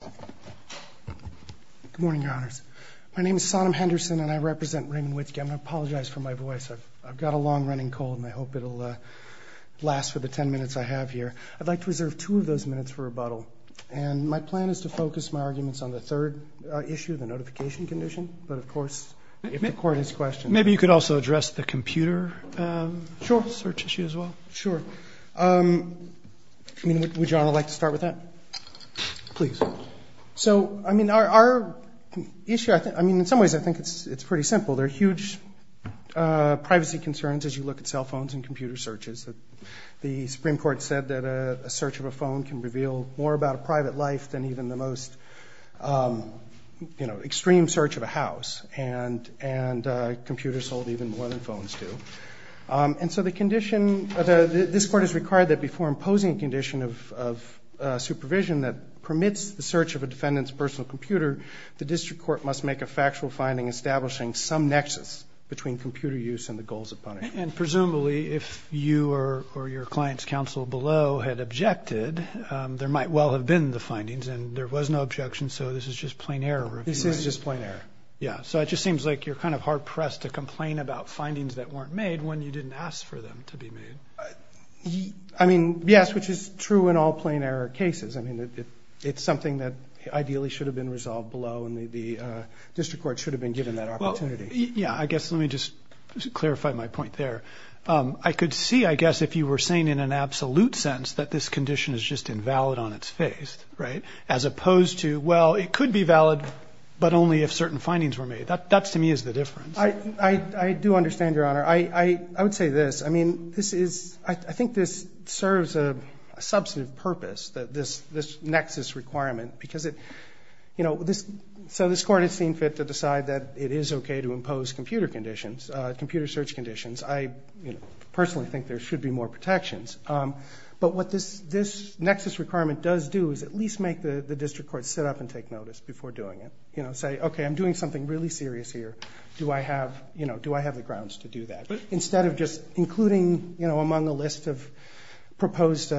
Good morning, Your Honors. My name is Sodom Henderson, and I represent Raymond Witzke. I want to apologize for my voice. I've got a long running cold, and I hope it'll last for the ten minutes I have here. I'd like to reserve two of those minutes for rebuttal. And my plan is to focus my arguments on the third issue, the notification condition, but of course, if the Court has questions. Maybe you could also address the computer search issue as well. Sure. Would Your Honor like to start with that? Please. So I mean our issue, I mean in some ways I think it's pretty simple. There are huge privacy concerns as you look at cell phones and computer searches. The Supreme Court said that a search of a phone can reveal more about a private life than even the most, you know, extreme search of a house. And computers sold even more than phones do. And so the condition, this Court has required that before imposing a condition of supervision that permits the search of a defendant's personal computer, the District Court must make a factual finding establishing some nexus between computer use and the goals of punishment. And presumably if you or your client's counsel below had objected, there might well have been the findings and there was no objection, so this is just plain error. This is just plain error. Yeah, so it just seems like you're kind of hard-pressed to complain about findings that weren't made when you didn't ask for them to be made. I mean, yes, which is true in all plain error cases. I mean it's something that ideally should have been resolved below and the District Court should have been given that opportunity. Yeah, I guess let me just clarify my point there. I could see, I guess, if you were saying in an absolute sense that this condition is just invalid on its face, right? As opposed to, well, it could be valid but only if certain I do understand, Your Honor. I would say this. I mean, this is, I think this serves a substantive purpose that this nexus requirement because it, you know, so this Court has seen fit to decide that it is okay to impose computer conditions, computer search conditions. I personally think there should be more protections. But what this nexus requirement does do is at least make the District Court sit up and take notice before doing it. You know, say, okay, I'm doing something really serious here. Do I have, you know, do I have the grounds to do that? But instead of just including, you know, among the list of proposed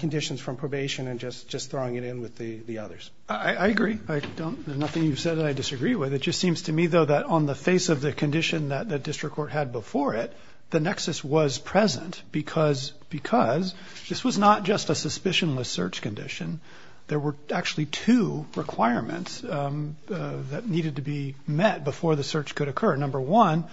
conditions from probation and just throwing it in with the others. I agree. I don't, there's nothing you've said that I disagree with. It just seems to me, though, that on the face of the condition that the District Court had before it, the nexus was present because this was not just a suspicionless search condition. There were actually two requirements that needed to be met before the search could occur. Number one,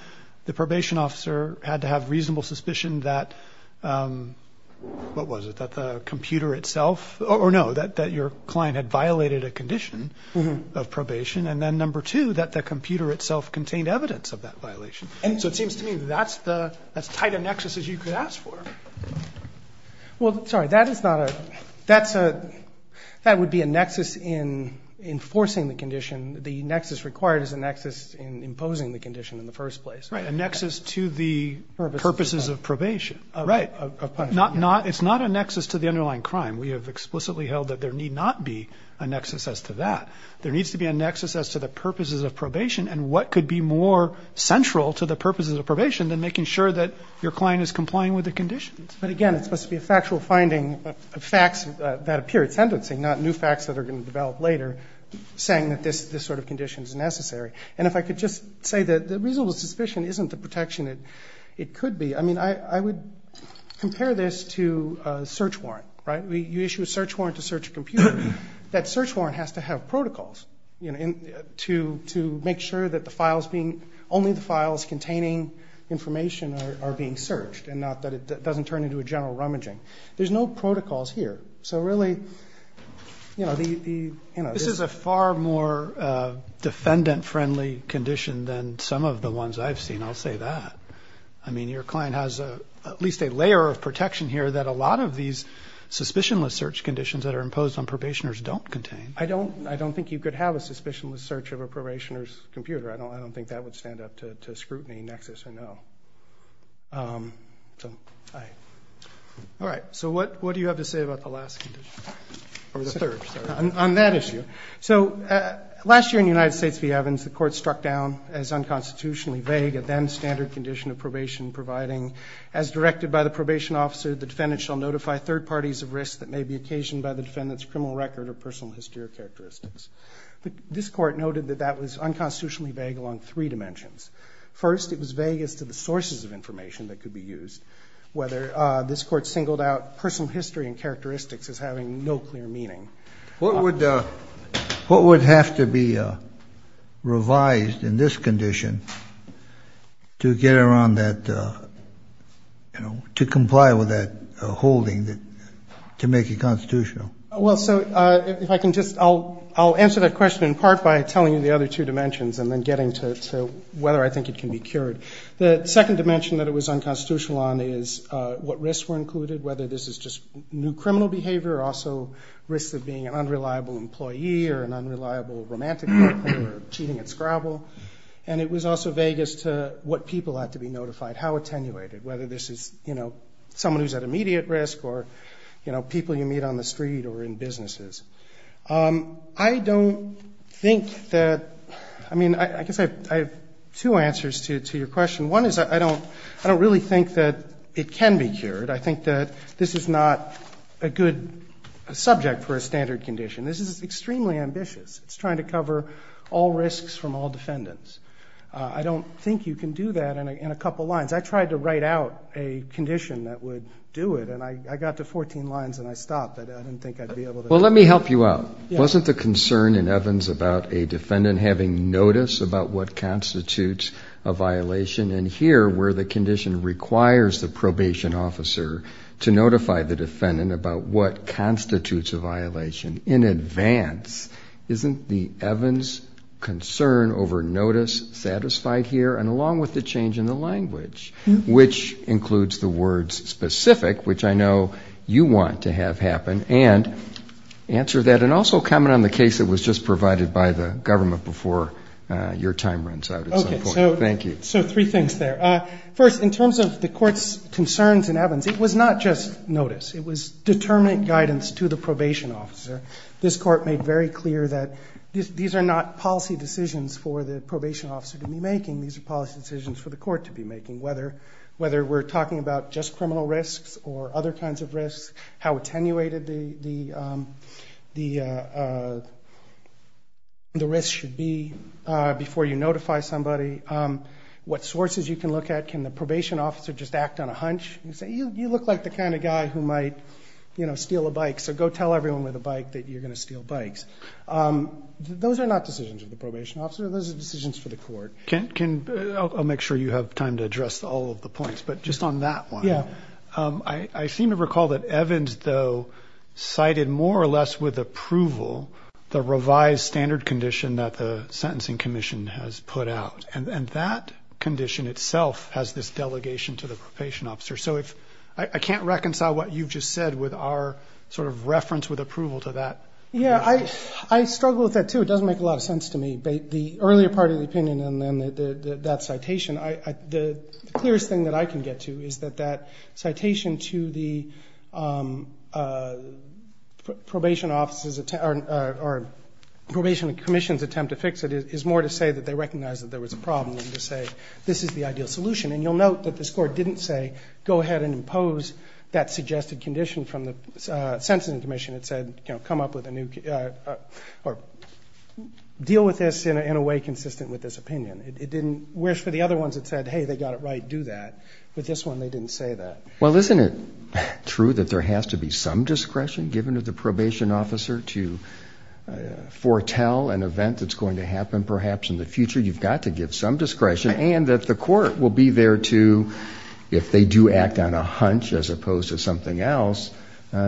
the probation officer had to have reasonable suspicion that, what was it, that the computer itself, or no, that your client had violated a condition of probation. And then number two, that the computer itself contained evidence of that violation. And so it seems to me that's the, that's as tight That is not a, that's a, that would be a nexus in enforcing the condition. The nexus required is a nexus in imposing the condition in the first place. Right. A nexus to the purposes of probation. Right. Not, not, it's not a nexus to the underlying crime. We have explicitly held that there need not be a nexus as to that. There needs to be a nexus as to the purposes of probation and what could be more central to the purposes of probation than making sure that your client is complying with the conditions. But again, it's supposed to be a factual finding of facts that appear at sentencing, not new facts that are going to develop later saying that this, this sort of condition is necessary. And if I could just say that the reasonable suspicion isn't the protection that it could be. I mean, I, I would compare this to a search warrant, right? You issue a search warrant to search a computer. That search warrant has to have protocols, you know, to, to make sure that the files being, only the files containing information are being searched and not that it doesn't turn into a general rummaging. There's no protocols here. So really, you know, the, you know, this is a far more defendant friendly condition than some of the ones I've seen. I'll say that. I mean, your client has a, at least a layer of protection here that a lot of these suspicionless search conditions that are imposed on probationers don't contain. I don't, I don't think you could have a suspicionless search of a probationer's file. So I, all right. So what, what do you have to say about the last condition? Or the third, sorry. On that issue. So last year in the United States v. Evans, the court struck down as unconstitutionally vague a then standard condition of probation providing, as directed by the probation officer, the defendant shall notify third parties of risks that may be occasioned by the defendant's criminal record or personal history or characteristics. But this court noted that that was unconstitutionally vague along three dimensions. First, it was vague as to the sources of information that could be used, whether this court singled out personal history and characteristics as having no clear meaning. What would, what would have to be revised in this condition to get around that, you know, to comply with that holding that, to make it constitutional? Well, so if I can just, I'll, I'll answer that question in part by telling you the other two dimensions and then getting to, to whether I think it can be cured. The second dimension that it was unconstitutional on is what risks were included, whether this is just new criminal behavior or also risks of being an unreliable employee or an unreliable romantic partner or cheating at Scrabble. And it was also vague as to what people had to be notified, how attenuated, whether this is, you know, someone who's at immediate risk or, you know, people you meet on the street or in businesses. I don't think that, I mean, I guess I have two answers to your question. One is I don't, I don't really think that it can be cured. I think that this is not a good subject for a standard condition. This is extremely ambitious. It's trying to cover all risks from all defendants. I don't think you can do that in a couple lines. I tried to write out a condition that would do it and I got to 14 lines and I stopped. I didn't think I'd be able to do it. Well, let me help you out. Wasn't the concern in Evans about a defendant having notice about what constitutes a violation and here where the condition requires the probation officer to notify the defendant about what constitutes a violation in advance, isn't the Evans concern over notice satisfied here and along with the change in the language, which includes the words specific, which I know you want to have happen and answer that and also comment on the case that was just provided by the government before your time runs out at some point. Thank you. So three things there. First, in terms of the court's concerns in Evans, it was not just notice. It was determined guidance to the probation officer. This court made very clear that these are not policy decisions for the probation officer to be making. These are policy decisions for the court to be making, whether we're talking about just criminal risks or other kinds of risks, how attenuated the risks should be before you notify somebody, what sources you can look at. Can the probation officer just act on a hunch and say, you look like the kind of guy who might steal a bike, so go tell everyone with a bike that you're going to steal bikes. Those are not decisions of the probation officer. Those are decisions for the court. I'll make sure you have time to address all of the points, but just on that one, I seem to recall that Evans, though, cited more or less with approval the revised standard condition that the Sentencing Commission has put out. And that condition itself has this delegation to the probation officer. So I can't reconcile what you've just said with our sort of reference with approval to that. Yeah, I struggle with that too. It doesn't make a lot of sense to me. The earlier part of the opinion and then that citation, the clearest thing that I can get to is that that citation to the probation commission's attempt to fix it is more to say that they recognize that there was a problem than to say, this is the ideal solution. And you'll note that this court didn't say, go ahead and impose that suggested condition from the Sentencing Commission. It said, come up with a new, or deal with this in a way consistent with this opinion. It didn't, whereas for the other ones, it said, hey, they got it right, do that. With this one, they didn't say that. Well, isn't it true that there has to be some discretion given to the probation officer to foretell an event that's going to happen perhaps in the future? You've got to give some discretion and that the court will be there to, if they do act on a hunch as opposed to something else,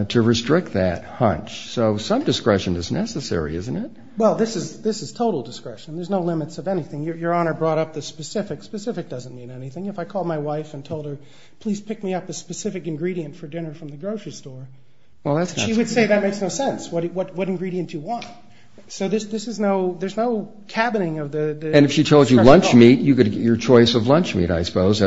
to restrict that hunch. So some discretion is necessary, isn't it? Well, this is total discretion. There's no limits of anything. Your Honor brought up the specific. Specific doesn't mean anything. If I called my wife and told her, please pick me up a specific ingredient for dinner from the grocery store, she would say that makes no sense. What ingredient do you want? So this is no, there's no cabining of the discretion. And if she told you lunch meat, you could get your choice of lunch meat, I suppose,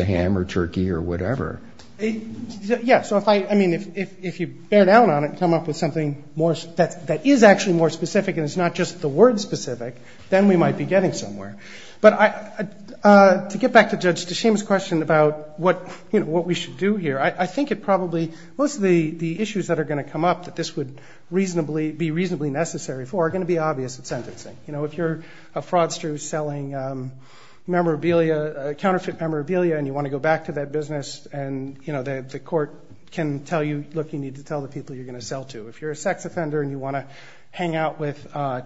to ham or turkey or whatever. Yeah. So if I, I mean, if you bear down on it and come up with something more, that is actually more specific and it's not just the word specific, then we might be getting somewhere. But I, to get back to Judge Deshaim's question about what, you know, what we should do here, I think it probably, most of the issues that are going to come up that this would reasonably, be reasonably necessary for are going to be obvious at sentencing. You know, if you're a fraudster who's selling memorabilia, counterfeit memorabilia, and you want to go back to that business and, you know, the court can tell you, look, you need to tell the people you're going to sell to. If you're a sex offender and you want to hang out with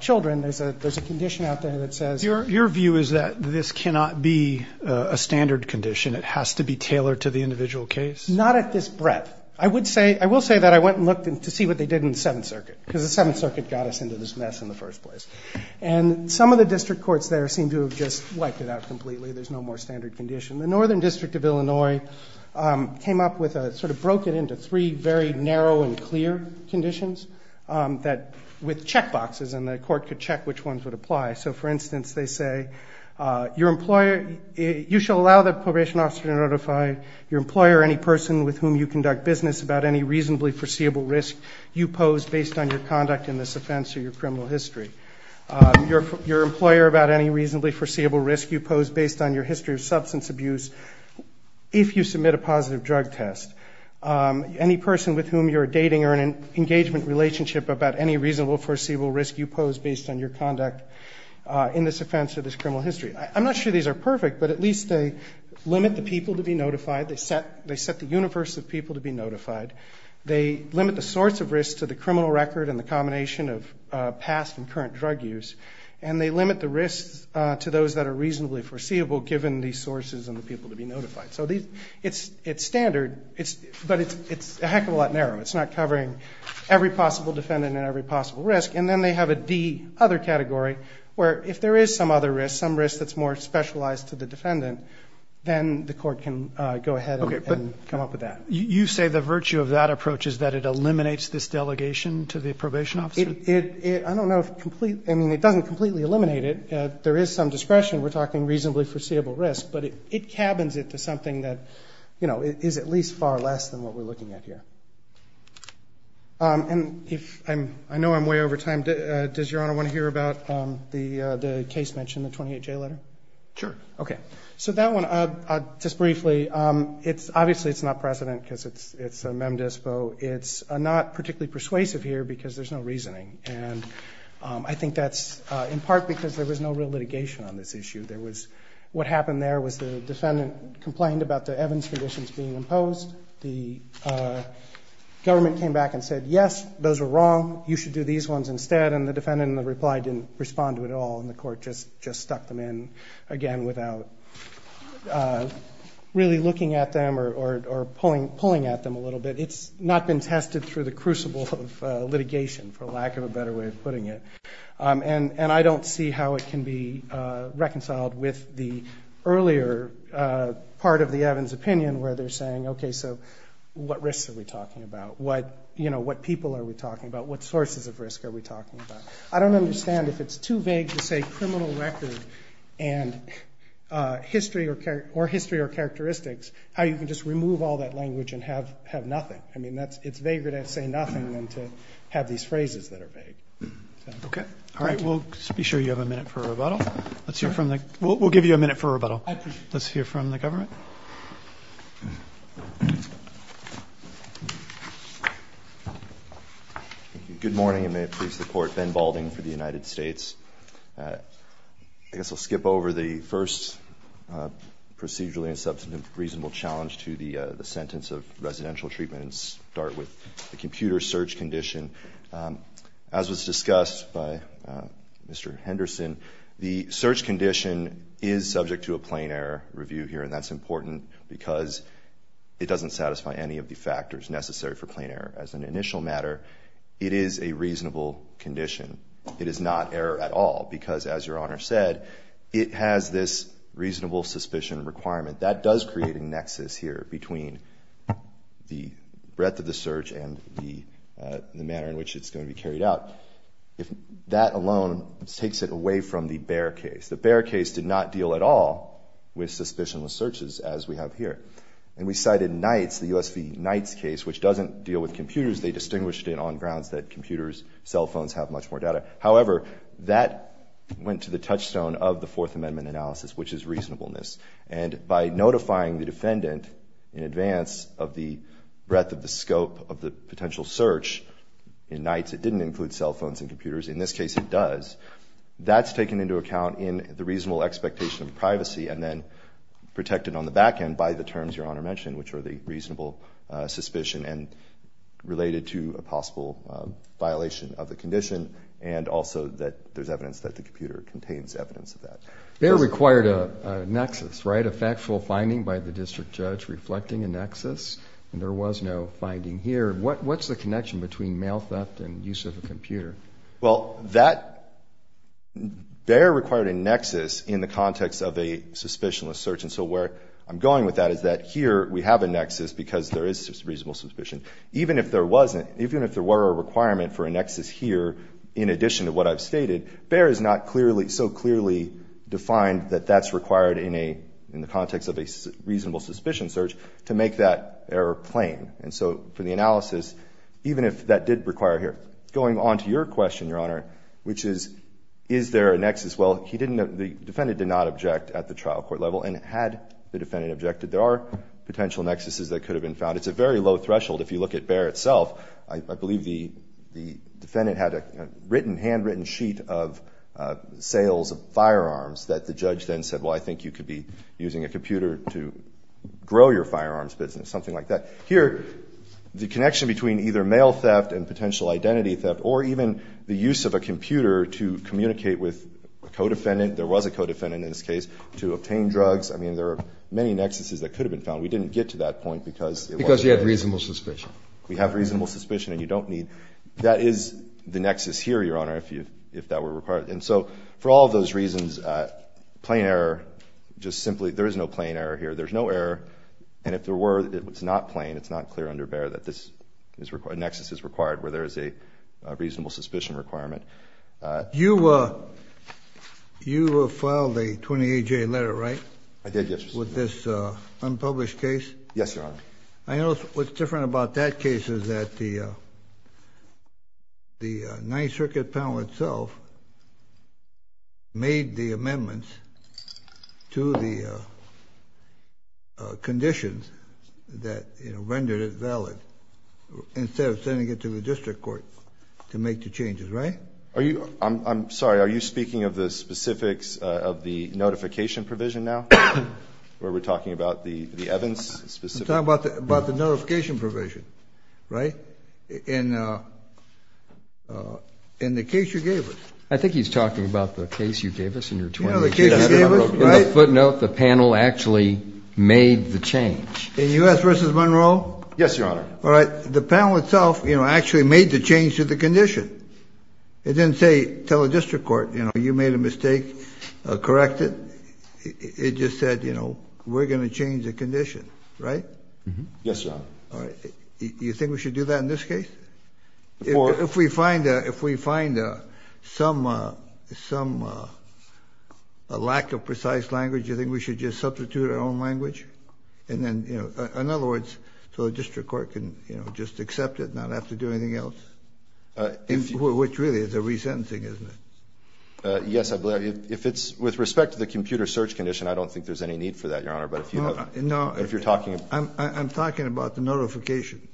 children, there's a, there's a condition out there that says, your view is that this cannot be a standard condition. It has to be tailored to the individual case. Not at this breadth. I would say, I will say that I went and looked to see what they did in the 7th Circuit, because the 7th Circuit got us into this mess in the first place. And some of the district courts there seem to have just wiped it out completely. There's no more standard condition. The Northern District of Illinois came up with a, sort of broke it into three very narrow and clear conditions that, with checkboxes, and the court could check which ones would apply. So, for instance, they say, your employer, you shall allow the probation officer to notify your employer or any person with whom you conduct business about any reasonably foreseeable risk you pose based on your conduct in this offense or your criminal history. Your employer about any reasonably foreseeable risk you pose based on your history of substance abuse, if you submit a positive drug test. Any person with whom you're dating or in an engagement relationship about any reasonable foreseeable risk you pose based on your conduct in this offense or this criminal history. I'm not sure these are perfect, but at least they limit the people to be notified. They set, they set the universe of people to be notified. They limit the source of risk to the criminal record and the combination of past and current drug use. And they limit the risks to those that are reasonably foreseeable given these sources and the people to be notified. So these, it's standard, but it's a heck of a lot narrower. It's not covering every possible defendant and every possible risk. And then they have a D, other category, where if there is some other risk, some risk that's more specialized to the defendant, then the court can go ahead and come up with that. You say the virtue of that approach is that it eliminates this delegation to the probation officer? It, it, it, I don't know if complete, I mean, it doesn't completely eliminate it. There is some discretion. We're talking reasonably foreseeable risk, but it, it cabins it to something that, you know, is at least far less than what we're looking at here. And if I'm, I know I'm way over time. Does Your Honor want to hear about the, the case mentioned in the 28-J letter? Sure. Okay. So that one, just briefly, it's obviously, it's not precedent because it's, it's a MemDispo. It's not particularly persuasive here because there's no reasoning. And I think that's in part because there was no real litigation on this issue. There was, what happened there was the defendant complained about the Evans conditions being imposed. The government came back and said, yes, those are wrong. You should do these ones instead. And the defendant in reply didn't respond to it at all. And the court just, just stuck them in again without really looking at them or, or, or pulling, pulling at them a little bit. It's not been tested through the crucible of litigation for lack of a better way of putting it. And, and I don't see how it can be reconciled with the earlier part of the Evans opinion where they're saying, okay, so what risks are we talking about? What, you know, what people are we talking about? What sources of risk are we talking about? I don't understand if it's too vague to say criminal record and history or, or history or characteristics, how you can just remove all that language and have, have nothing. I mean, that's, it's vaguer to say nothing than to have these phrases that are vague. Okay. All right. We'll just be sure you have a minute for rebuttal. Let's hear from the, we'll give you a minute for rebuttal. Let's hear from the government. Good morning and may it please the court. Ben Balding for the United States. I guess I'll skip over the first procedurally and substantive reasonable challenge to the sentence of residential treatment and start with the computer search condition. As was discussed by Mr. Henderson, the search condition is subject to a plain error review here and that's important because it doesn't satisfy any of the factors necessary for plain error. As an initial matter, it is a reasonable condition. It is not error at all because as your honor said, it has this reasonable suspicion requirement that does create a nexus here between the manner in which it's going to be carried out. If that alone takes it away from the Bear case, the Bear case did not deal at all with suspicionless searches as we have here. And we cited Knight's, the US v. Knight's case, which doesn't deal with computers. They distinguished it on grounds that computers, cell phones have much more data. However, that went to the touchstone of the Fourth Amendment analysis, which is reasonableness. And by notifying the defendant in advance of the breadth of the scope of the potential search in Knight's, it didn't include cell phones and computers. In this case, it does. That's taken into account in the reasonable expectation of privacy and then protected on the back end by the terms your honor mentioned, which are the reasonable suspicion and related to a possible violation of the condition. And also that there's evidence that the computer contains evidence of that. Bear required a nexus, right? A factual finding by the district judge reflecting a nexus and there was no finding here. What's the connection between mail theft and use of a computer? Well, that Bear required a nexus in the context of a suspicionless search. And so where I'm going with that is that here we have a nexus because there is reasonable suspicion. Even if there wasn't, even if there were a requirement for a nexus here, in addition to what I've stated, Bear is not clearly, so clearly defined that that's required in a, in the context of a reasonable suspicion search to make that error plain. And so for the analysis, even if that did require here. Going on to your question, your honor, which is, is there a nexus? Well, he didn't know, the defendant did not object at the trial court level and had the defendant objected, there are potential nexuses that could have been found. It's a very low threshold. If you look at Bear itself, I believe the defendant had a written, handwritten sheet of sales of firearms that the judge then said, well, I think you could be using a computer to grow your firearms business, something like that. Here, the connection between either mail theft and potential identity theft, or even the use of a computer to communicate with a co-defendant, there was a co-defendant in this case, to obtain drugs. I mean, there are many nexuses that could have been found. We didn't get to that point because it wasn't. Because you had reasonable suspicion. We have reasonable suspicion and you don't need. That is the nexus here, your honor, if that were required. And so, for all those reasons, plain error, just simply, there is no plain error here, there's no error, and if there were, it's not plain, it's not clear under Bear that this nexus is required, where there is a reasonable suspicion requirement. You filed a 28-J letter, right? I did, yes, Your Honor. Yes, Your Honor. I notice what's different about that case is that the Ninth Circuit panel itself made the amendments to the conditions that rendered it valid, instead of sending it to the District Court to make the changes, right? Are you, I'm sorry, are you speaking of the specifics of the notification provision now, where we're talking about the Evans specifics? We're talking about the notification provision, right? In the case you gave us. I think he's talking about the case you gave us in your 28-J letter. You know the case you gave us, right? In the footnote, the panel actually made the change. In U.S. v. Monroe? Yes, Your Honor. All right, the panel itself, you know, actually made the change to the condition. It didn't say, tell the District Court, you know, you made a mistake, correct it. It just said, you know, we're going to change the condition, right? Yes, Your Honor. All right, you think we should do that in this case? If we find some lack of precise language, you think we should just substitute our own language? And then, you know, in other words, so the District Court can just accept it and not have to do anything else? Which really is a resentencing, isn't it? Yes, I believe. If it's with respect to the computer search condition, I don't think there's any need for that, Your Honor. No, no. If you're talking about I'm talking about the notification.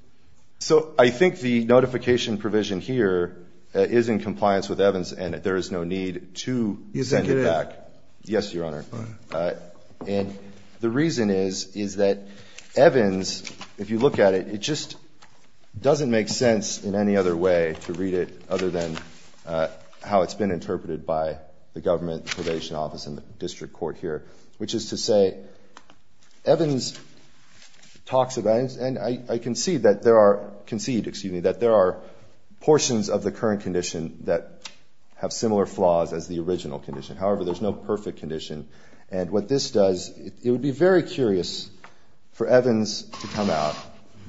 So I think the notification provision here is in compliance with Evans, and there is no need to send it back. Executive. Yes, Your Honor. All right. And the reason is, is that Evans, if you look at it, it just doesn't make sense in any other way to read it other than how it's been interpreted by the government probation office and the District Court here, which is to say Evans talks about, and I concede that there are, concede, excuse me, that there are portions of the current condition that have similar flaws as the original condition. However, there's no perfect condition. And what this does, it would be very curious for Evans to come out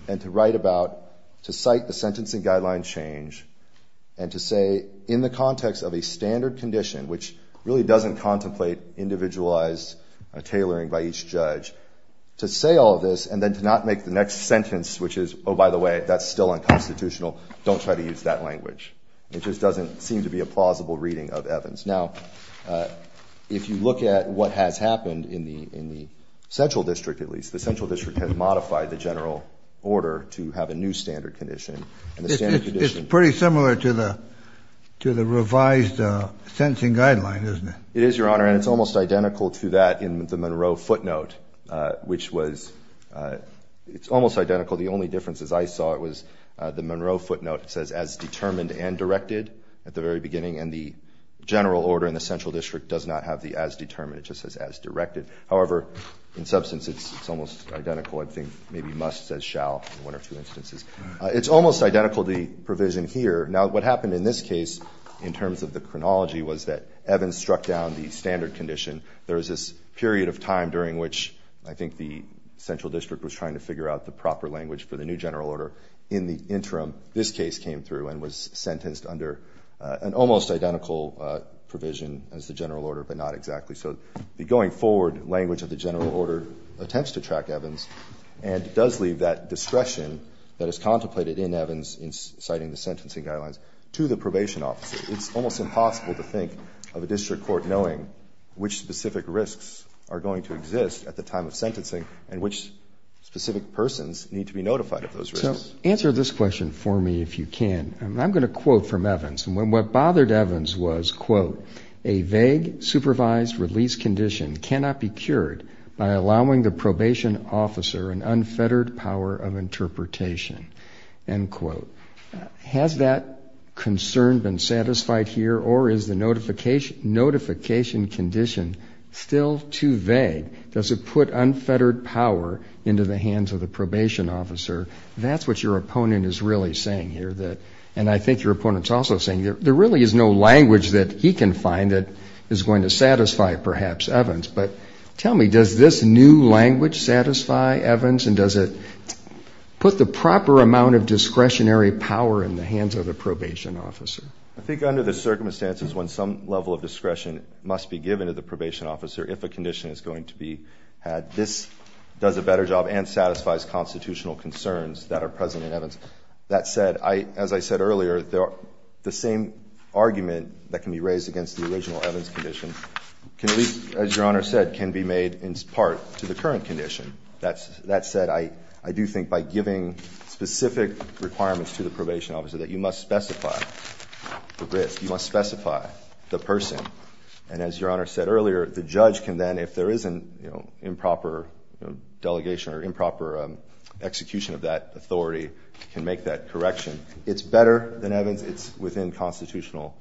and to write about, to cite the sentencing guideline change, and to say in the context of a standard condition, which really doesn't contemplate individualized tailoring by each judge, to say all of this and then to not make the next sentence, which is, oh, by the way, that's still unconstitutional, don't try to use that language. It just doesn't seem to be a plausible reading of Evans. Now, if you look at what has happened in the central district, at least, the central district does not have a new standard condition. It's pretty similar to the revised sentencing guideline, isn't it? It is, Your Honor, and it's almost identical to that in the Monroe footnote, which was, it's almost identical. The only difference, as I saw it, was the Monroe footnote says, as determined and directed at the very beginning, and the general order in the central district does not have the as determined. It just says as directed. However, in substance, it's almost identical. I think maybe must says shall in one or two instances. It's almost identical to the provision here. Now, what happened in this case, in terms of the chronology, was that Evans struck down the standard condition. There was this period of time during which I think the central district was trying to figure out the proper language for the new general order. In the interim, this case came through and was sentenced under an almost identical provision as the general order, but not exactly so. The going forward language of the general order attempts to track Evans and does leave that discretion that is contemplated in Evans in citing the sentencing guidelines to the probation officer. It's almost impossible to think of a district court knowing which specific risks are going to exist at the time of sentencing and which specific persons need to be notified of those risks. So answer this question for me, if you can. A vague supervised release condition cannot be cured by allowing the probation officer an unfettered power of interpretation. End quote. Has that concern been satisfied here or is the notification condition still too vague? Does it put unfettered power into the hands of the probation officer? That's what your opponent is really saying here. And I think your opponent is also saying there really is no language that he can find that is going to satisfy perhaps Evans. But tell me, does this new language satisfy Evans and does it put the proper amount of discretionary power in the hands of the probation officer? I think under the circumstances when some level of discretion must be given to the probation officer if a condition is going to be had, this does a better job and satisfies constitutional concerns that are present in Evans. As I said earlier, the same argument that can be raised against the original Evans condition can be made in part to the current condition. That said, I do think by giving specific requirements to the probation officer that you must specify the risk. You must specify the person. And as your Honor said earlier, the judge can then, if there is an improper delegation or improper execution of that authority, can make that correction. It's better than Evans. It's within constitutional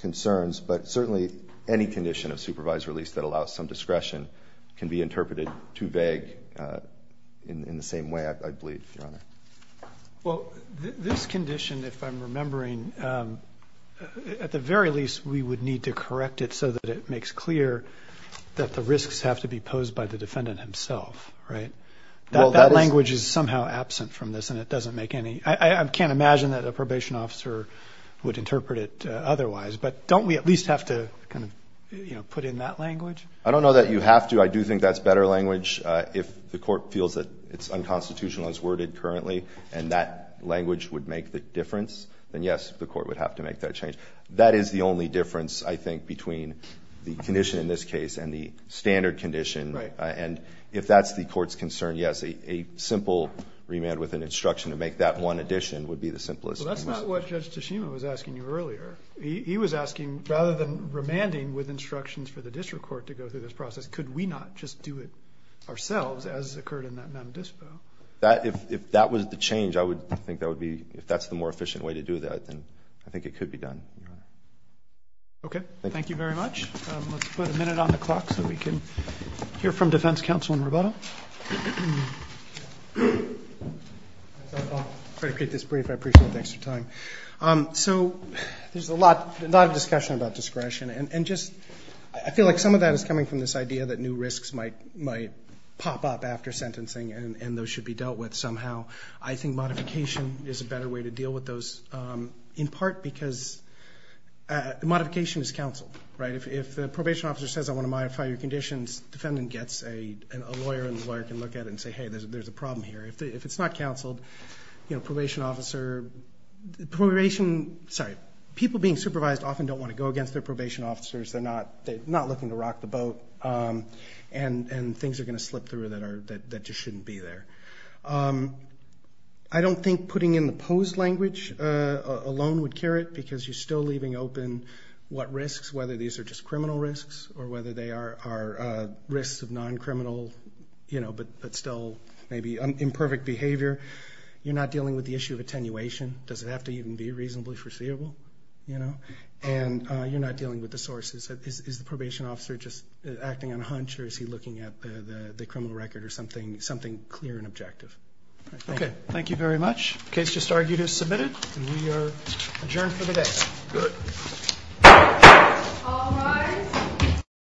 concerns. But certainly any condition of supervised release that allows some discretion can be interpreted too vague in the same way, I believe, Your Honor. Well, this condition, if I'm remembering, at the very least we would need to correct it so that it makes clear that the risks have to be posed by the defendant himself, right? That language is somehow absent from this and it doesn't make any I can't imagine that a probation officer would interpret it otherwise. But don't we at least have to kind of put in that language? I don't know that you have to. I do think that's better language. If the court feels that it's unconstitutional as worded currently and that language would make the difference, then, yes, the court would have to make that change. That is the only difference, I think, between the condition in this case and the standard condition. And if that's the court's concern, yes, a simple remand with an instruction to make that one addition would be the simplest. Well, that's not what Judge Tashima was asking you earlier. He was asking, rather than remanding with instructions for the district court to go through this process, could we not just do it ourselves as occurred in that non-dispo? If that was the change, I think that would be If that's the more efficient way to do that, then I think it could be done. Okay. Thank you very much. Let's put a minute on the clock so we can hear from defense counsel in rebuttal. I'll try to keep this brief. I appreciate the extra time. So there's a lot of discussion about discretion, and I feel like some of that is coming from this idea that new risks might pop up after sentencing and those should be dealt with somehow. I think modification is a better way to deal with those, in part because modification is counsel. If the probation officer says, I want to modify your conditions, the defendant gets a lawyer and the lawyer can look at it and say, hey, there's a problem here. If it's not counsel, people being supervised often don't want to go against their probation officers. They're not looking to rock the boat, and things are going to slip through that just shouldn't be there. I don't think putting in the posed language alone would cure it, because you're still leaving open what risks, whether these are just criminal risks or whether they are risks of non-criminal but still maybe imperfect behavior. You're not dealing with the issue of attenuation. Does it have to even be reasonably foreseeable? And you're not dealing with the sources. Is the probation officer just acting on a hunch, or is he looking at the criminal record or something clear and objective? Okay. Thank you very much. The case just argued is submitted, and we are adjourned for the day. Good. All rise.